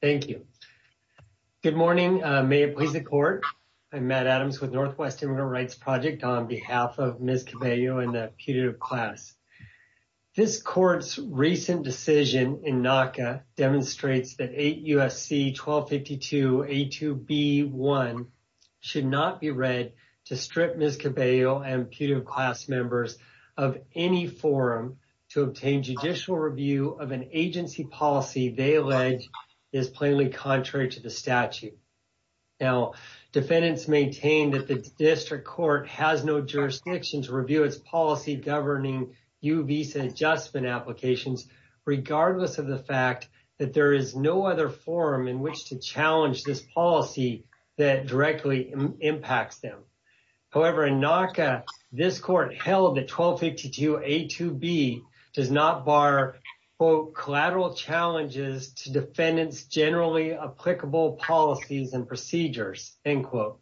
Thank you. Good morning. May it please the court. I'm Matt Adams with Northwest Immigrant Rights Project on behalf of Ms. Cabello and the putative class. This court's recent decision in NACA demonstrates that 8 U.S.C. 1252 A2B1 should not be read to strip Ms. Cabello and putative class members of any forum to obtain judicial review of an agency policy they allege is plainly contrary to the statute. Now, defendants maintain that the district court has no jurisdiction to review its policy governing U visa adjustment applications, regardless of the fact that there is no other forum in which to challenge this policy that directly impacts them. However, in NACA, this court held that 1252 A2B does not bar, quote, collateral challenges to defendants generally applicable policies and procedures, end quote.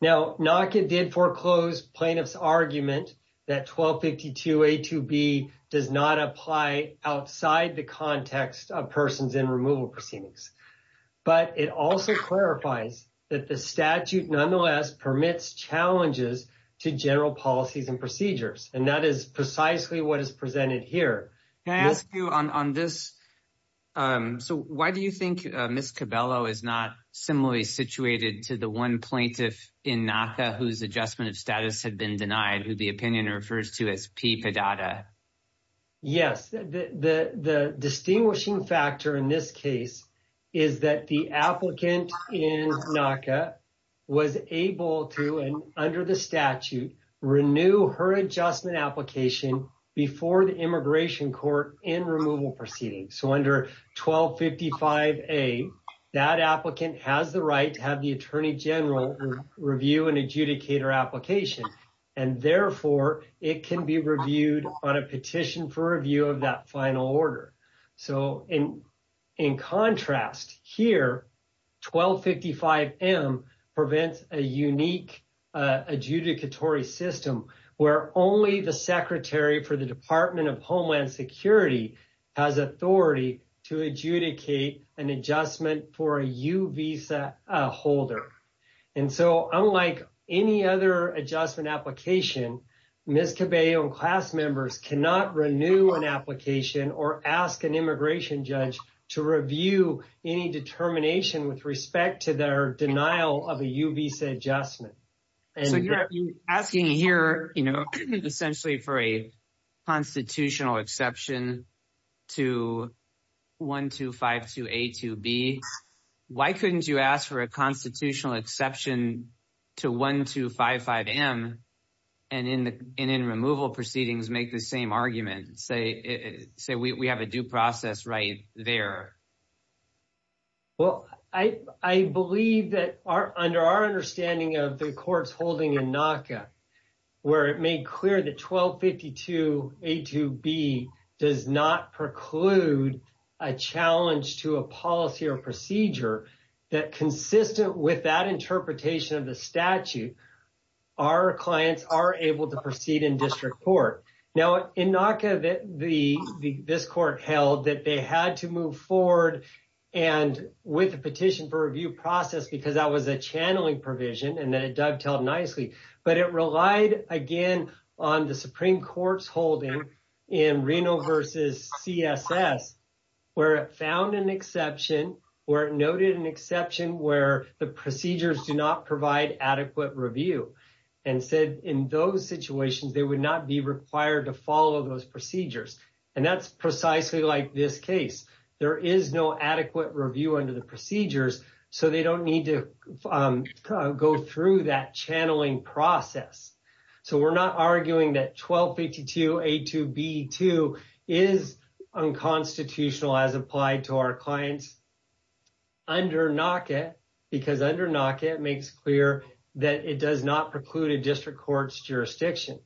Now, NACA did foreclose plaintiff's argument that 1252 A2B does not apply outside the context of persons in removal proceedings. But it also clarifies that the statute nonetheless permits challenges to general policies and procedures, and that is precisely what is presented here. Can I ask you on this? So why do you think Ms. Cabello is not similarly situated to the one plaintiff in NACA whose adjustment of status had been denied, who the opinion refers to as P. Padada? Yes, the distinguishing factor in this case is that the applicant in NACA was able to, and under the statute, renew her adjustment application before the immigration court in removal proceedings. So under 1255 A, that applicant has the right to have the attorney general review and adjudicate her application, and therefore, it can be reviewed on a petition for review of that final order. So in contrast here, 1255 M prevents a unique adjudicatory system where only the secretary for the Department of Homeland Security has authority to adjudicate an adjustment for a U visa holder. And so unlike any other adjustment application, Ms. Cabello and class members cannot renew an application or ask an immigration judge to review any determination with respect to their denial of a U visa adjustment. So you're asking here, you know, essentially for a constitutional exception to 1252 A to B. Why couldn't you ask for a constitutional exception to 1255 M and in removal proceedings make the same argument, say we have a due process right there? Well, I believe that under our understanding of the courts holding in NACA, where it made clear that 1252 A to B does not preclude a challenge to a policy or procedure that consistent with that interpretation of the statute, our clients are able to proceed in district court. Now in NACA, this court held that they had to move forward and with a petition for review process, because that was a channeling provision and that it dovetailed nicely, but it relied again on the Supreme Court's holding in Reno versus CSS, where it found an exception, where it noted an exception where the procedures do not provide adequate review and said in those situations, they would not be required to follow those procedures. And that's precisely like this case. There is no adequate review under the procedures, so they don't need to go through that channeling process. So we're not arguing that 1252 A to B is unconstitutional as applied to our clients under NACA, because under NACA, it makes clear that it does not preclude a district court's jurisdiction.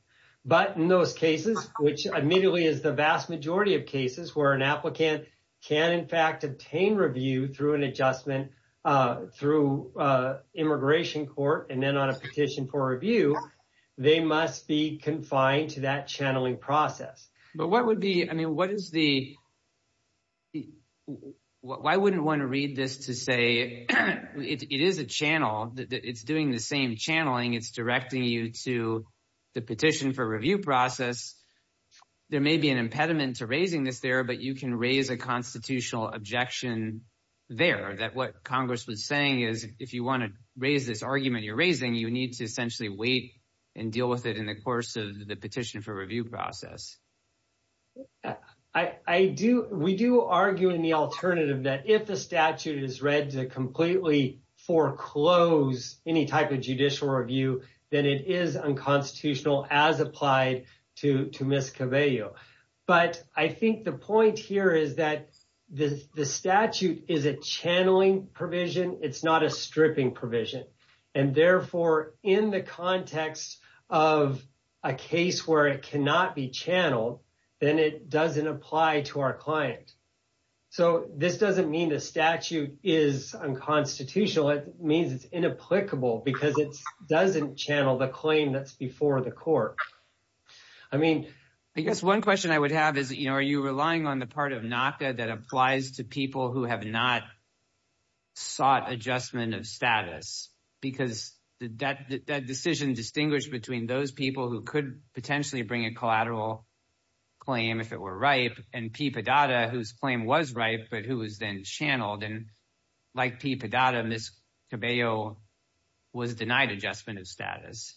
But in those cases, which admittedly is the vast majority of cases where an applicant can in fact obtain review through immigration court and then on a petition for review, they must be confined to that channeling process. But what would be, I mean, what is the, why wouldn't one read this to say, it is a channel, it's doing the same channeling, it's directing you to the petition for review process. There may be an impediment to raising this there, but you can raise a constitutional objection there, that what Congress was saying is if you want to raise this argument you're need to essentially wait and deal with it in the course of the petition for review process. I do, we do argue in the alternative that if the statute is read to completely foreclose any type of judicial review, then it is unconstitutional as applied to Ms. Cabello. But I think the point here is that the statute is a channeling provision, it's not a stripping provision. And therefore, in the context of a case where it cannot be channeled, then it doesn't apply to our client. So this doesn't mean the statute is unconstitutional, it means it's inapplicable because it doesn't channel the claim that's before the court. I mean, I guess one question I would have is, you know, are you relying on the part of NACA that applies to people who have not sought adjustment of status? Because that decision distinguished between those people who could potentially bring a collateral claim if it were ripe, and P. Padada whose claim was ripe but who was then channeled, and like P. Padada, Ms. Cabello was denied adjustment of status.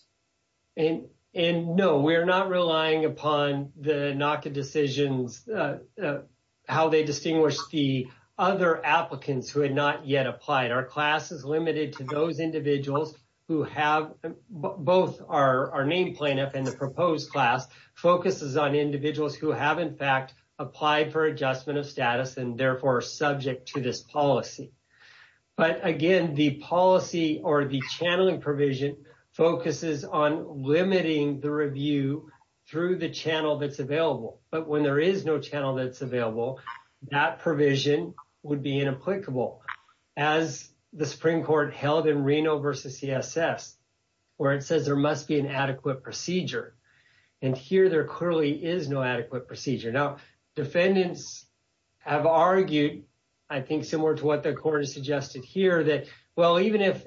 And no, we're not relying upon the NACA decisions, how they distinguish the other applicants who had not yet applied. Our class is limited to those individuals who have both our name plaintiff and the proposed class focuses on individuals who have in fact applied for adjustment of status and therefore are subject to this policy. But again, the policy or the channeling provision focuses on limiting the review through the channel that's available. That provision would be inapplicable. As the Supreme Court held in Reno versus CSS, where it says there must be an adequate procedure. And here there clearly is no adequate procedure. Now, defendants have argued, I think similar to what the court has suggested here that, well, even if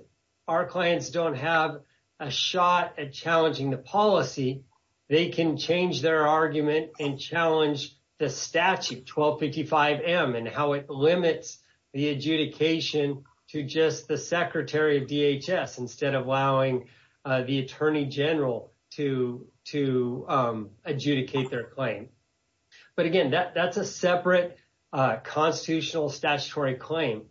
our clients don't have a shot at challenging the policy, they can change their argument and challenge the statute 1255M and how it limits the adjudication to just the Secretary of DHS instead of allowing the Attorney General to adjudicate their claim. But again, that's a separate constitutional statutory claim.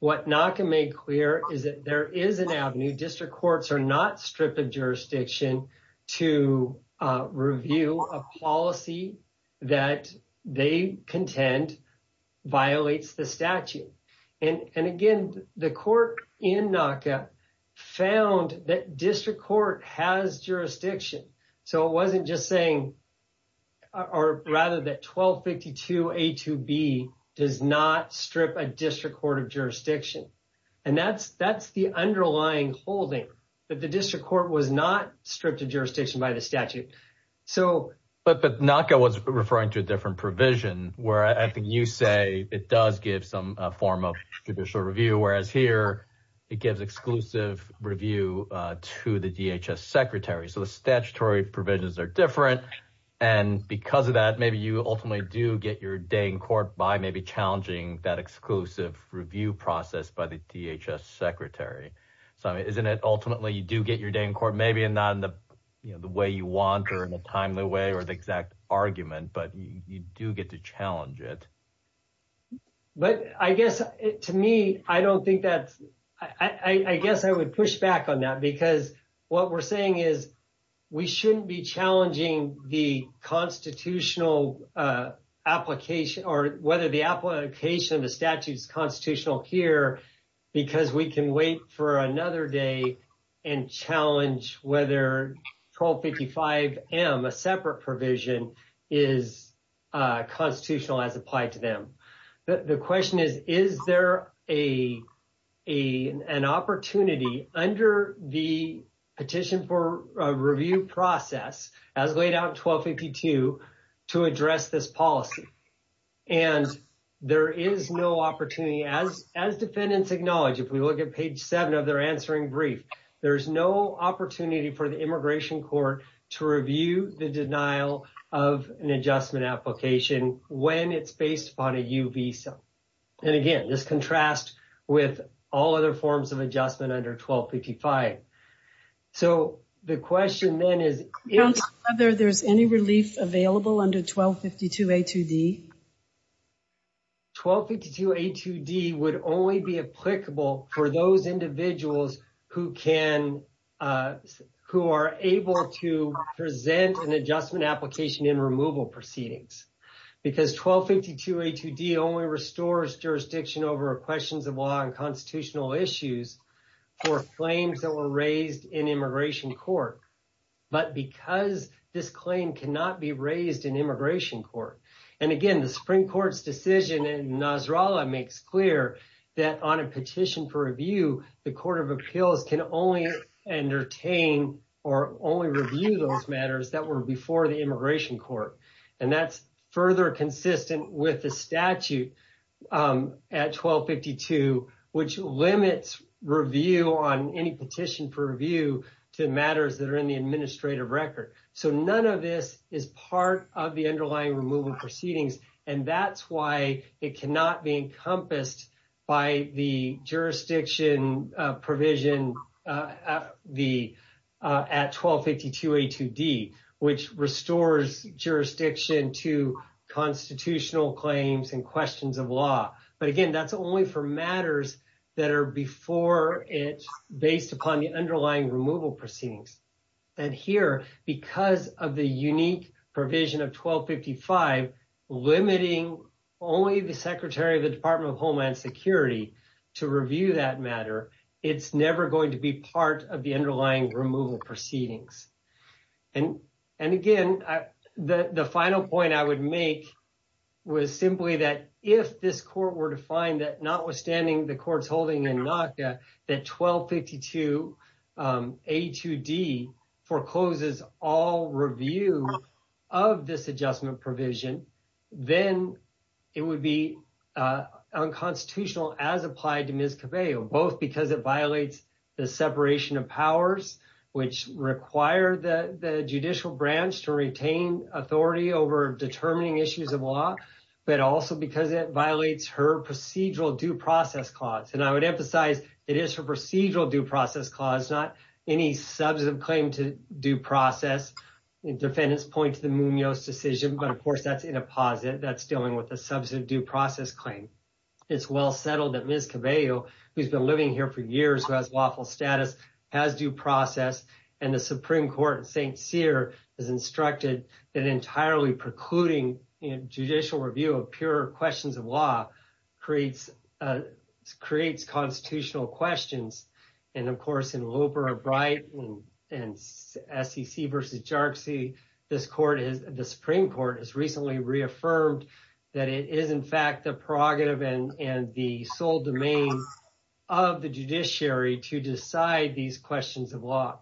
What NACA made clear is that there is an avenue, district courts are not stripped of jurisdiction to review a policy that they contend violates the statute. And again, the court in NACA found that district court has jurisdiction. So it wasn't just saying or rather that 1252A2B does not strip a district court of jurisdiction. And that's the underlying holding that the district court was not stripped of jurisdiction by the statute. But NACA was referring to a different provision where I think you say it does give some form of judicial review, whereas here it gives exclusive review to the DHS Secretary. So the statutory provisions are different. And because of that, maybe you ultimately do get your day in court by maybe challenging that exclusive review process by the DHS Secretary. So isn't it ultimately you do get your day in court, maybe not in the way you want or in a timely way or the exact argument, but you do get to challenge it. But I guess to me, I don't think that's I guess I would push back on that because what we're saying is we shouldn't be challenging the constitutional application or whether the application of the statute is constitutional here because we can wait for another day and challenge whether 1255M, a separate provision, is constitutional as applied to them. The question is, is there an opportunity under the petition for a review process as laid out in 1252 to address this policy? And there is no opportunity, as defendants acknowledge, if we look at page seven of their answering brief, there's no opportunity for the immigration court to review the denial of an adjustment application when it's based upon a U visa. And again, this contrasts with all other forms of adjustment under 1255. So the question then is whether there's any relief available under 1252A2D. 1252A2D would only be applicable for those individuals who are able to present an adjustment application in removal proceedings because 1252A2D only restores jurisdiction over questions of law and constitutional issues for claims that were raised in immigration court, but because this claim cannot be raised in immigration court. And again, the Supreme Court's decision in Nasrallah makes clear that on a petition for review, the court of appeals can only entertain or only review those matters that were before the immigration court. And that's further consistent with the statute at 1252, which limits review on any petition for review to matters that are in the administrative record. So none of this is part of the underlying removal proceedings, and that's why it cannot be encompassed by the jurisdiction provision at 1252A2D, which restores jurisdiction to constitutional claims and questions of law. But again, that's only for matters that are before it based upon the underlying removal proceedings. And here, because of the unique provision of 1255 limiting only the Secretary of the Department of Homeland Security to review that matter, it's never going to be part of the underlying removal proceedings. And again, the final point I would make was simply that if this court were to find that notwithstanding the court's holding in NACA that 1252A2D forecloses all review of this adjustment provision, then it would be unconstitutional as applied to Ms. Cabello, both because it violates the separation of powers, which require the judicial branch to retain authority over determining issues of law, but also because it violates her procedural due process clause. And I would emphasize it is her procedural due process clause, not any substantive claim to due process. Defendants point to the Munoz decision, but of course that's in a posit that's dealing with a substantive due process claim. It's well settled that Ms. Cabello, who's been living here for years, who has lawful status, has due process. And the Supreme Court in St. Cyr has instructed that entirely precluding judicial review of pure questions of law creates constitutional questions. And of course, in Looper or Bright and SEC versus JARCC, this Supreme Court has recently reaffirmed that it is in fact the prerogative and the sole domain of the judiciary to decide these questions of law.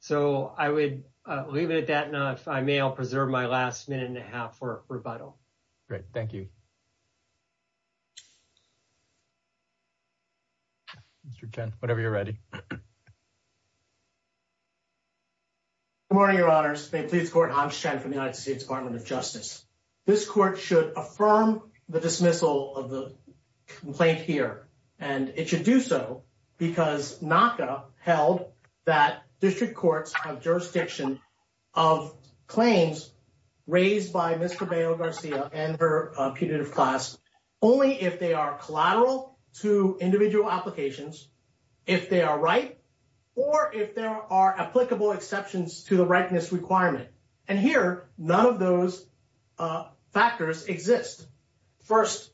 So I would leave it at that. Now, if I may, I'll preserve my last minute and a half for rebuttal. Great. Thank you. Mr. Chen, whenever you're ready. Good morning, Your Honors. May it please the Court, I'm Chen from the United States Department of Justice. This court should affirm the dismissal of the complaint here, and it should do so because NACA held that district courts have jurisdiction of claims raised by Ms. Cabello Garcia and her punitive class only if they are collateral to individual applications. If they are right, or if there are applicable exceptions to the rightness requirement. And here, none of those factors exist. First,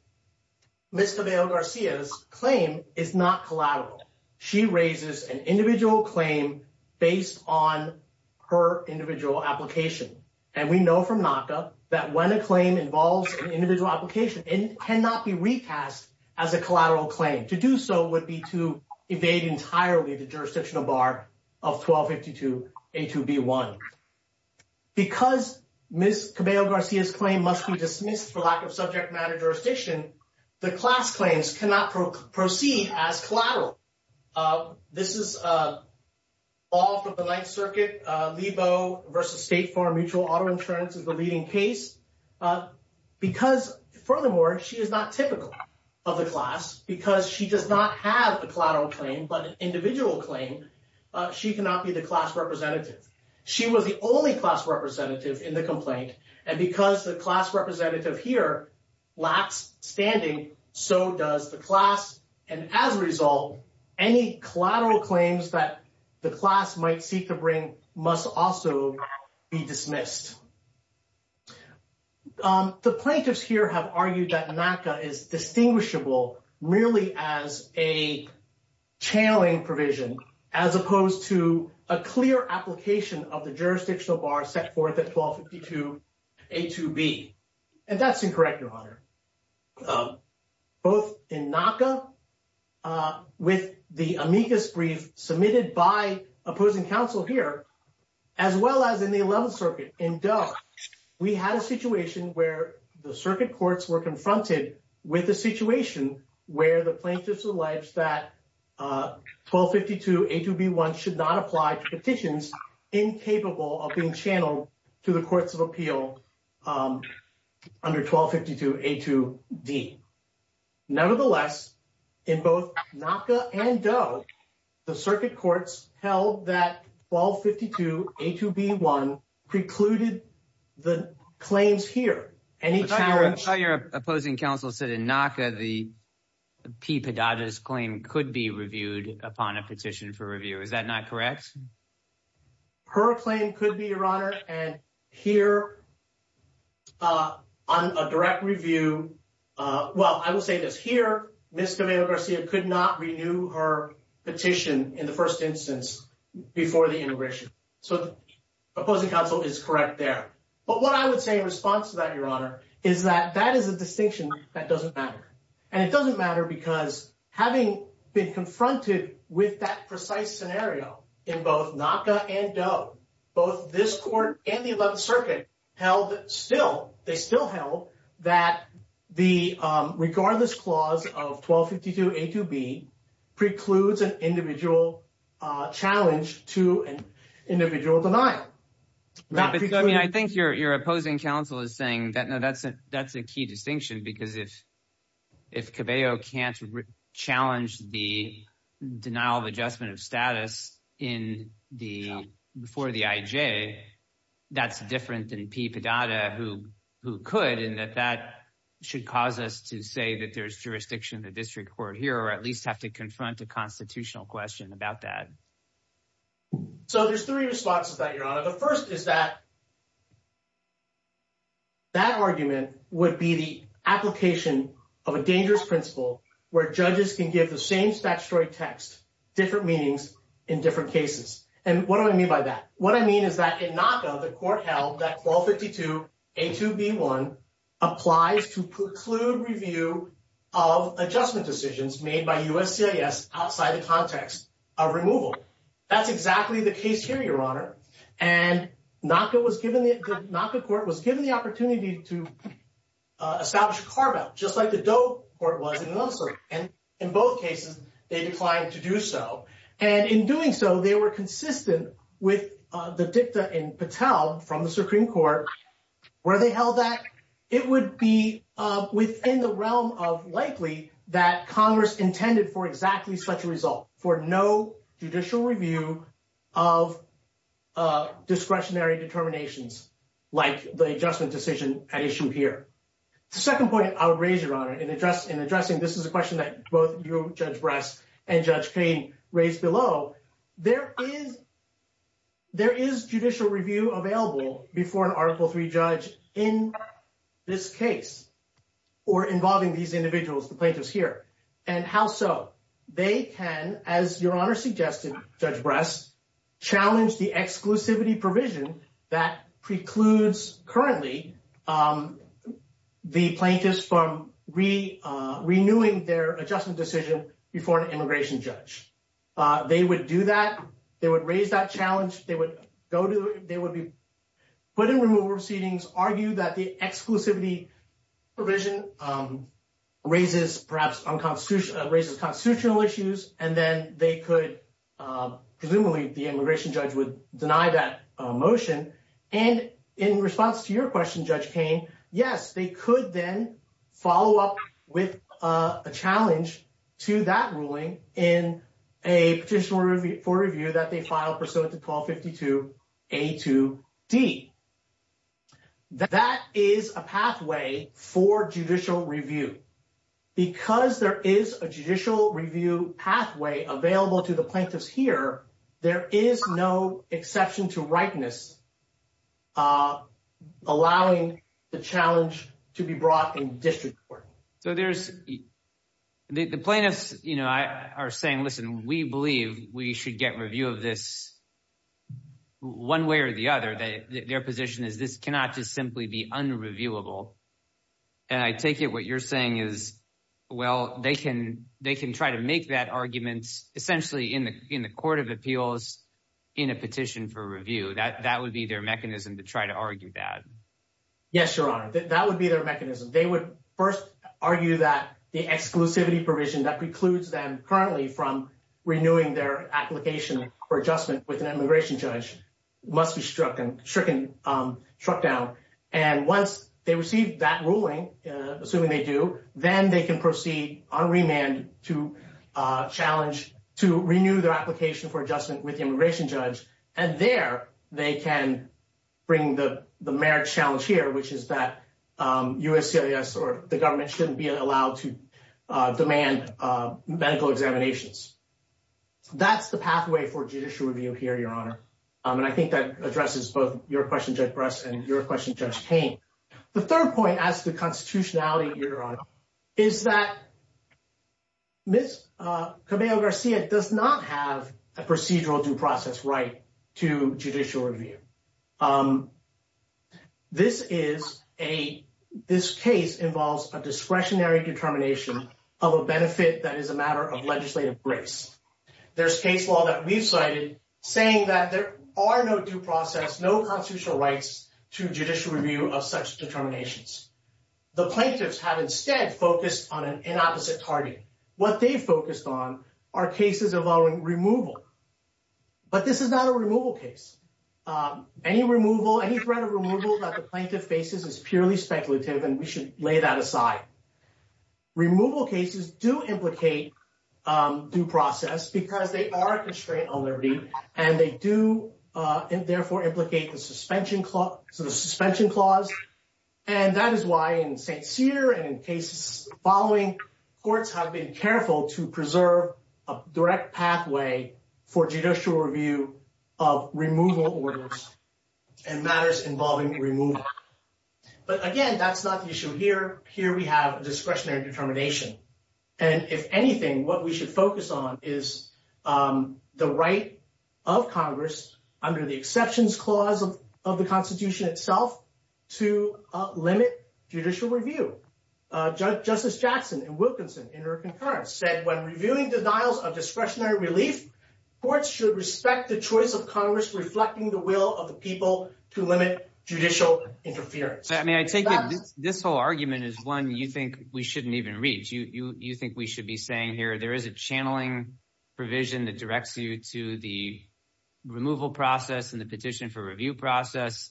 Ms. Cabello Garcia's claim is not collateral. She raises an individual claim based on her individual application. And we know from NACA that when a claim involves an individual application, it cannot be recast as a collateral claim. To do so would be to evade entirely the jurisdictional bar of 1252A2B1. Because Ms. Cabello Garcia's claim must be dismissed for lack of subject matter jurisdiction, the class claims cannot proceed as collateral. This is all from the Ninth Circuit, Lebo versus State Farm Mutual Auto Insurance is the leading case. Because furthermore, she is not typical of the class, because she does not have a collateral claim, but an individual claim, she cannot be the class representative. She was the only class representative in the complaint. And because the class representative here lacks standing, so does the class. And as a result, any collateral claims that the class might seek to bring must also be dismissed. The plaintiffs here have argued that NACA is distinguishable merely as a channeling provision, as opposed to a clear application of the jurisdictional bar set forth at 1252A2B. And that's incorrect, Your Honor. Both in NACA, with the amicus brief submitted by opposing counsel here, as well as in the Eleventh Circuit in Doe, we had a situation where the circuit courts were confronted with a situation where the plaintiffs alleged that 1252A2B1 should not apply to petitions incapable of being channeled to the courts of appeal under 1252A2D. Nonetheless, in both NACA and Doe, the circuit courts held that 1252A2B1 precluded the claims here. Any challenge? Your opposing counsel said in NACA the P. Padada's claim could be reviewed upon a petition for review. Is that not correct? Her claim could be, Your Honor. And here, on a direct review, well, I will say this. Here, Ms. Camilo-Garcia could not renew her petition in the first instance before the integration. So the opposing counsel is correct there. But what I would say in response to that, Your Honor, is that that is a distinction that doesn't matter. And it doesn't matter because having been confronted with that precise scenario in both NACA and Doe, both this court and the Eleventh Circuit held still, they still held that the regardless clause of 1252A2B precludes an individual challenge to an individual denial. I mean, I think your opposing counsel is saying that's a key distinction because if Cabello can't challenge the denial of adjustment of status before the IJ, that's different than P. Padada, who could, in that that should cause us to say that there's jurisdiction in the district court here or at least have to confront a constitutional question about that. So there's three responses to that, Your Honor. The first is that that argument would be the application of a dangerous principle where judges can give the same statutory text, different meanings in different cases. And what do I mean by that? What I mean is that in NACA, the court held that 1252A2B1 applies to preclude review of adjustment decisions made by USCIS outside the context of removal. That's exactly the case here, Your Honor. And NACA was given, the NACA court was given the opportunity to establish a carve-out, just like the Doe court was in the other circuit. And in both cases, they declined to do so. And in doing so, they were consistent with the dicta in Patel from the Supreme Court, where they held that it would be within the realm of likely that Congress intended for exactly such result for no judicial review of discretionary determinations like the adjustment decision at issue here. The second point I'll raise, Your Honor, in addressing this is a question that both you, Judge Bress, and Judge Cain raised below, there is judicial review available before an Article III judge in this case or involving these individuals, the plaintiffs here. And how so? They can, as Your Honor suggested, Judge Bress, challenge the exclusivity provision that precludes currently the plaintiffs from renewing their adjustment decision before an immigration judge. They would do that. They would raise that challenge. They would go to, they would be put in removal proceedings, argue that the exclusivity provision raises perhaps unconstitutional, raises constitutional issues, and then they could, presumably, the immigration judge would deny that motion. And in response to your question, Judge Cain, yes, they could then follow up with a challenge to that ruling in a petition for review that they filed pursuant to 1252 A2D. That is a pathway for judicial review. Because there is a judicial review pathway available to the plaintiffs here, there is no exception to rightness allowing the challenge to be brought in district court. So there's, the plaintiffs, you know, are saying, listen, we believe we should get a review of this one way or the other. Their position is this cannot just simply be unreviewable. And I take it what you're saying is, well, they can try to make that argument essentially in the court of appeals in a petition for review. That would be their mechanism to try to argue that. Yes, Your Honor. That would be their mechanism. They would first argue that the exclusivity provision that precludes them currently from renewing their application for adjustment with an immigration judge must be struck down. And once they receive that ruling, assuming they do, then they can proceed on remand to challenge, to renew their application for adjustment with the immigration judge. And there they can bring the marriage challenge here, which is that USCIS or the government shouldn't be allowed to demand medical examinations. That's the pathway for judicial review here, Your Honor. And I think that addresses both your question, Judge Bress, and your question, Judge Payne. The third point as to constitutionality, Your Honor, is that Ms. Cabello-Garcia does not have a procedural due process right to judicial review. This case involves a discretionary determination of a benefit that is a matter of legislative grace. There's case law that we've cited saying that there are no due process, no constitutional rights to judicial review of such determinations. The plaintiffs have instead focused on an inopposite target. What they've focused on are cases involving removal. But this is not a removal case. Any removal, any threat of removal that the plaintiff faces is purely speculative, and we should lay that aside. Removal cases do implicate due process because they are a constraint on liberty, and they do therefore implicate the suspension clause. And that is why in St. Cyr and in cases following, courts have been careful to preserve a direct pathway for judicial review of removal orders and matters involving removal. But again, that's not the issue here. Here we have a discretionary determination. And if anything, what we should focus on is the right of Congress under the exceptions clause of the Constitution itself to limit judicial review. Justice Jackson in Wilkinson in her concurrence said, when reviewing denials of discretionary relief, courts should respect the choice of Congress reflecting the will of the people to limit judicial interference. I mean, I take it this whole argument is one you think we shouldn't even reach. You think we should be saying here there is a channeling provision that directs you to the removal process and the petition for review process.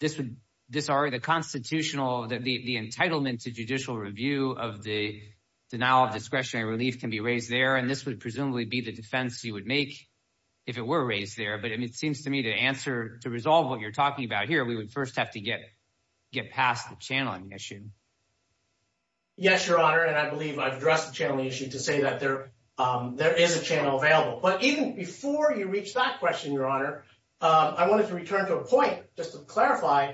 This would, this already the constitutional, the entitlement to judicial review of the denial of discretionary relief can be raised there, and this would presumably be the defense you would make if it were raised there. But it seems to me to answer, to resolve what you're talking about here, we would first have to get past the channeling issue. Yes, Your Honor, and I believe I've addressed the channeling issue to say that there is a channel available. But even before you reach that question, Your Honor, I wanted to return to a point just to clarify.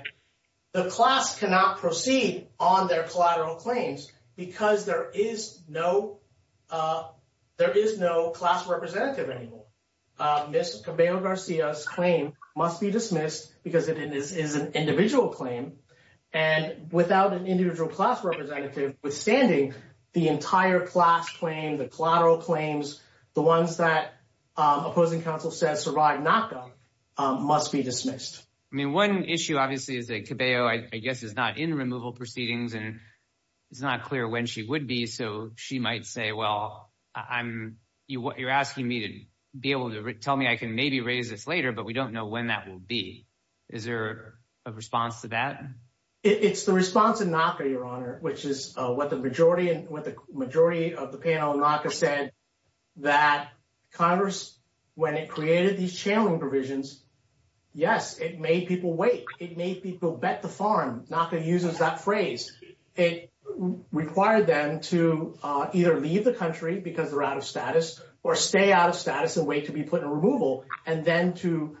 The class cannot proceed on their collateral claims because there is no, there is no class representative anymore. Ms. Cabello-Garcia's claim must be dismissed because it is an individual claim. And without an individual class representative, withstanding the entire class claim, the collateral claims, the ones that opposing counsel says survive NACA must be dismissed. I mean, one issue obviously is that Cabello, I guess, is not in removal proceedings, and it's not clear when she would be. So she might say, well, I'm, you're asking me to be able to tell me I can maybe raise this later, but we don't know when that will be. Is there a response to that? It's the response in NACA, Your Honor, which is what the majority of the panel in NACA said that Congress, when it created these channeling provisions, yes, it made people wait. It made people bet the farm. NACA uses that phrase. It required them to either leave the country because they're out of status or stay out of status and wait to be put in removal and then to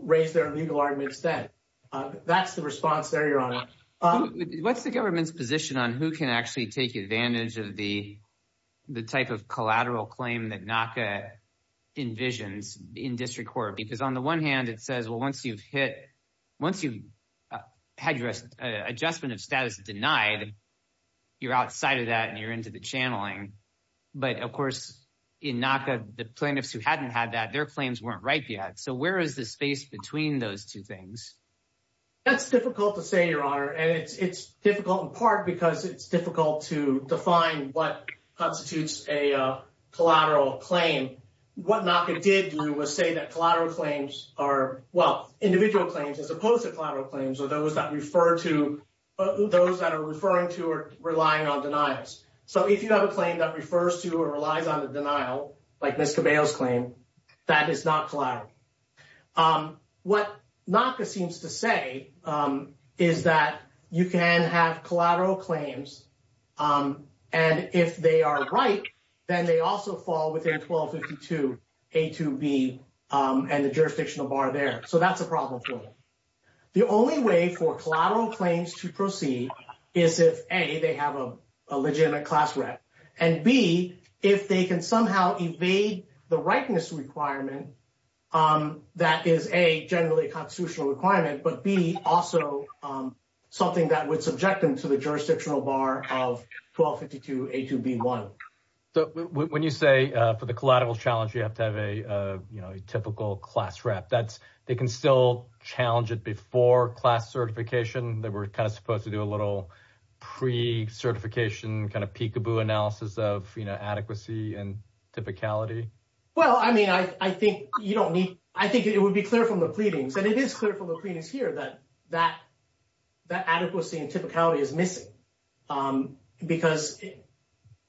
raise their legal arguments then. That's the response there, Your Honor. What's the government's position on who can actually take advantage of the type of collateral claim that NACA envisions in district court? Because on the one hand, it says, well, once you've had your adjustment of status denied, you're outside of that and you're into the channeling. But of course, in NACA, the plaintiffs who hadn't had their claims weren't ripe yet. So where is the space between those two things? That's difficult to say, Your Honor, and it's difficult in part because it's difficult to define what constitutes a collateral claim. What NACA did do was say that collateral claims are, well, individual claims as opposed to collateral claims are those that refer to, those that are referring to or relying on denials. So if you have a claim that refers to or relies on denial, like Ms. Cabello's claim, that is not collateral. What NACA seems to say is that you can have collateral claims and if they are ripe, then they also fall within 1252 A2B and the jurisdictional bar there. So that's a problem for them. The only way for collateral claims to proceed is if, A, they have a legitimate class rep and, B, if they can somehow evade the ripeness requirement that is, A, generally a constitutional requirement but, B, also something that would subject them to the jurisdictional bar of 1252 A2B1. So when you say for the collateral challenge you have to have a typical class rep, they can still challenge it before class certification. They were kind of supposed to do a little pre-certification kind of peekaboo analysis of, you know, adequacy and typicality. Well, I mean, I think you don't need, I think it would be clear from the pleadings, and it is clear from the pleadings here, that adequacy and typicality is missing because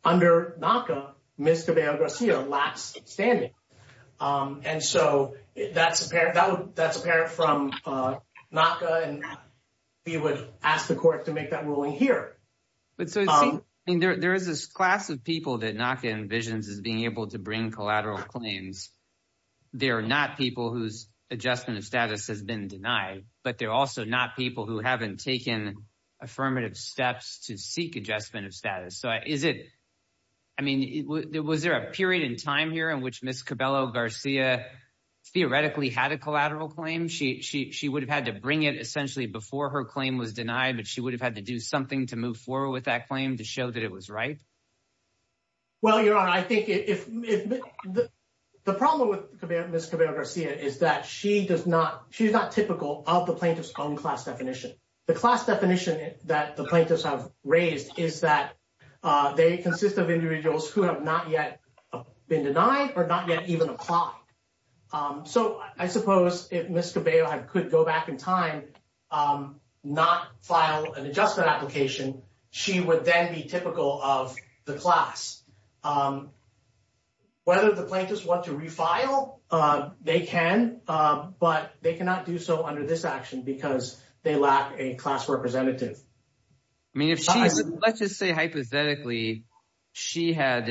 under NACA, Ms. Cabello-Garcia lacks standing. And so that's apparent from NACA, and we would ask the court to make that ruling here. But so there is this class of people that NACA envisions as being able to bring collateral claims. They are not people whose adjustment of status has been denied, but they're also not people who haven't taken affirmative steps to seek adjustment of status. So is it, I mean, was there a period in time here which Ms. Cabello-Garcia theoretically had a collateral claim? She would have had to bring it essentially before her claim was denied, but she would have had to do something to move forward with that claim to show that it was right? Well, Your Honor, I think the problem with Ms. Cabello-Garcia is that she's not typical of the plaintiff's own class definition. The class definition that the plaintiffs have raised is that they consist of individuals who have not yet been denied or not yet even applied. So I suppose if Ms. Cabello-Garcia could go back in time not file an adjustment application, she would then be typical of the class. Whether the plaintiffs want to refile, they can, but they cannot do so under this action because they lack a class representative. I mean, let's just say hypothetically, she had,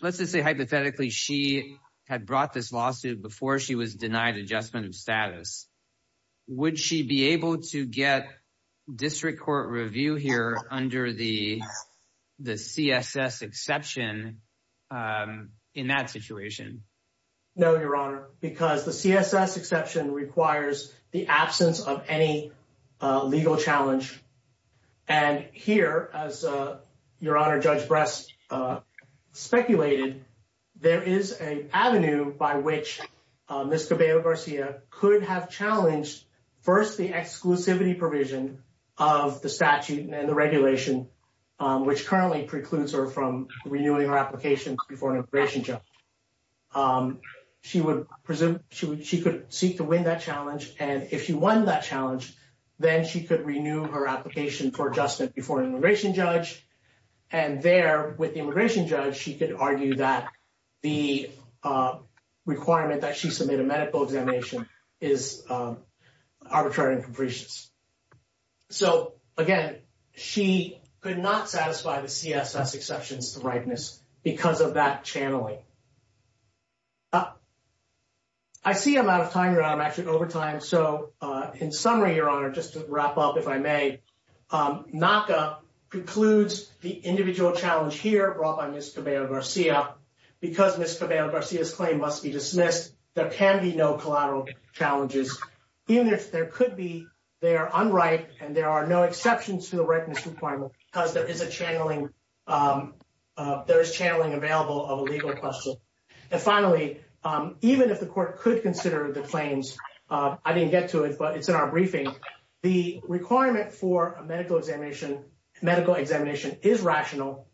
let's just say hypothetically, she had brought this lawsuit before she was denied adjustment of status. Would she be able to get district court review here under the CSS exception in that situation? No, Your Honor, because the CSS exception requires the absence of any legal challenge. And here, as Your Honor, Judge Brest speculated, there is an avenue by which Ms. Cabello-Garcia could have challenged first the exclusivity provision of the statute and the regulation, which currently precludes her from renewing her application before an immigration judge. She would presume she could seek to win that challenge. And if she won that challenge, then she could renew her application for adjustment before an immigration judge. And there, with the immigration judge, she could argue that the requirement that she submit a medical examination is arbitrary and capricious. So, again, she could not satisfy the CSS exception's ripeness because of that channeling. I see I'm out of time, Your Honor. I'm actually over time. So, in summary, Your Honor, just to wrap up, if I may, NACA precludes the individual challenge here brought by Ms. Cabello-Garcia. Because Ms. Cabello-Garcia's claim must be dismissed, there can be no collateral challenges, even if there could be. They are unright, and there are no exceptions to the ripeness requirement because there is a channeling available of a legal question. And finally, even if the court could consider the claims, I didn't get to it, but it's in our briefing, the requirement for a medical examination is rational.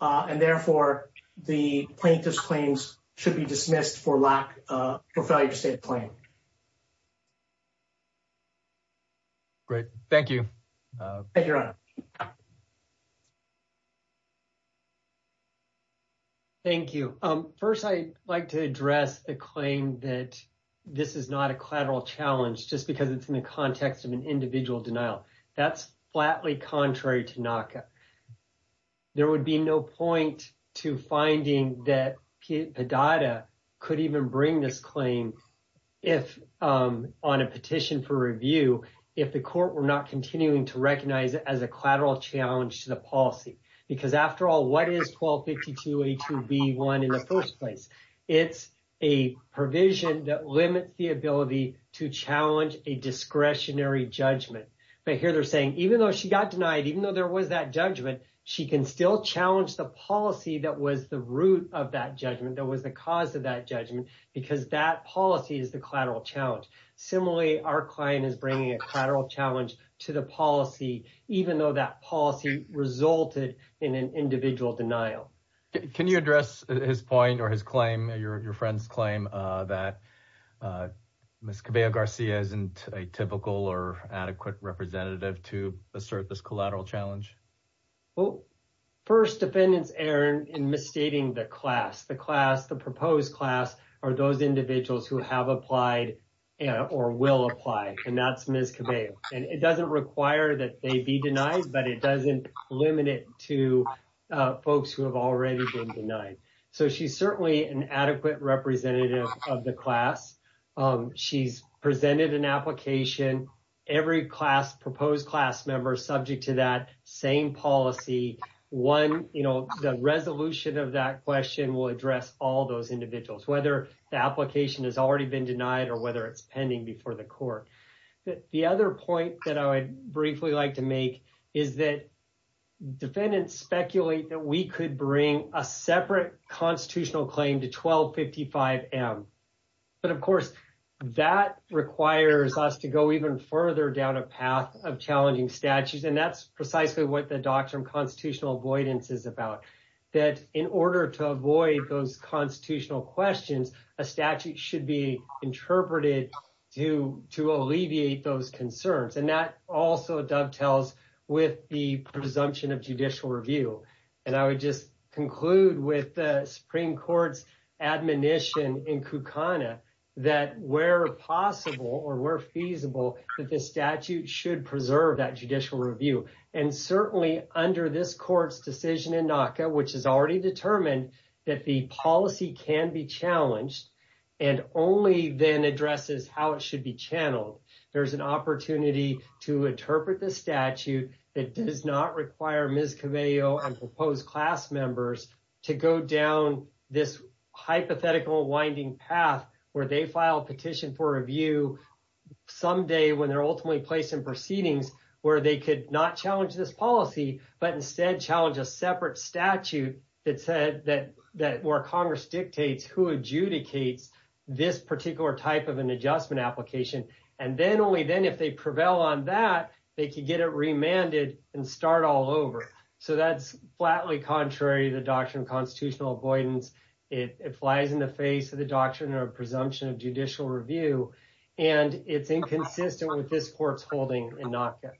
And therefore, the plaintiff's claims should be dismissed for failure to state a claim. Great. Thank you. Thank you, Your Honor. Thank you. First, I'd like to address the claim that this is not a collateral challenge just because it's in the context of an individual denial. That's flatly contrary to NACA. There would be no point to finding that Padada could even bring this claim on a petition for review if the court were not continuing to recognize it as a collateral challenge to the policy. Because after all, what is 1252A2B1 in the first place? It's a provision that limits the ability to challenge a discretionary judgment. But here they're saying, even though she got she can still challenge the policy that was the root of that judgment, that was the cause of that judgment, because that policy is the collateral challenge. Similarly, our client is bringing a collateral challenge to the policy, even though that policy resulted in an individual denial. Can you address his point or his claim, your friend's claim that Ms. Cabella Garcia isn't a typical or adequate representative to assert this collateral challenge? Well, first defendants, Aaron, in misstating the class, the class, the proposed class, are those individuals who have applied or will apply. And that's Ms. Cabella. And it doesn't require that they be denied, but it doesn't limit it to folks who have already been denied. So she's certainly an adequate representative of the class. She's presented an application. Every proposed class member is subject to that same policy. The resolution of that question will address all those individuals, whether the application has already been denied or whether it's pending before the court. The other point that I would briefly like to make is that defendants speculate that we could bring a separate constitutional claim to 1255M. But of course, that requires us to go even further down a path of challenging statutes. And that's precisely what the doctrine of constitutional avoidance is about, that in order to avoid those constitutional questions, a statute should be interpreted to alleviate those concerns. And that also dovetails with the presumption of judicial review. And I would just conclude with the Supreme Court's admonition in Kukana that where possible or where feasible, that the statute should preserve that judicial review. And certainly under this court's decision in NACA, which has already determined that the policy can be challenged and only then addresses how it should be channeled, there's an opportunity to interpret the statute that does not require Ms. Caveo and proposed class members to go down this hypothetical winding path where they file a petition for review someday when they're ultimately placed in proceedings where they could not challenge this policy, but instead challenge a separate statute that said that where Congress dictates who adjudicates this particular type of application. And then only then, if they prevail on that, they can get it remanded and start all over. So that's flatly contrary to the doctrine of constitutional avoidance. It flies in the face of the doctrine or presumption of judicial review. And it's inconsistent with this court's holding in NACA.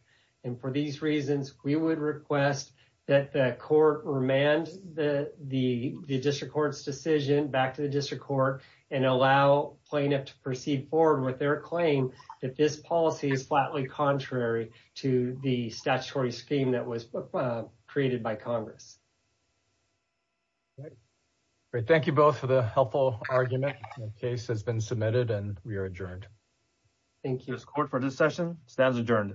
And for these reasons, we would request that the court remand the district court's decision back to the district court and allow plaintiff to proceed forward with their claim that this policy is flatly contrary to the statutory scheme that was created by Congress. Thank you both for the helpful argument. The case has been submitted and we are adjourned. Thank you as court for this session. Stands adjourned.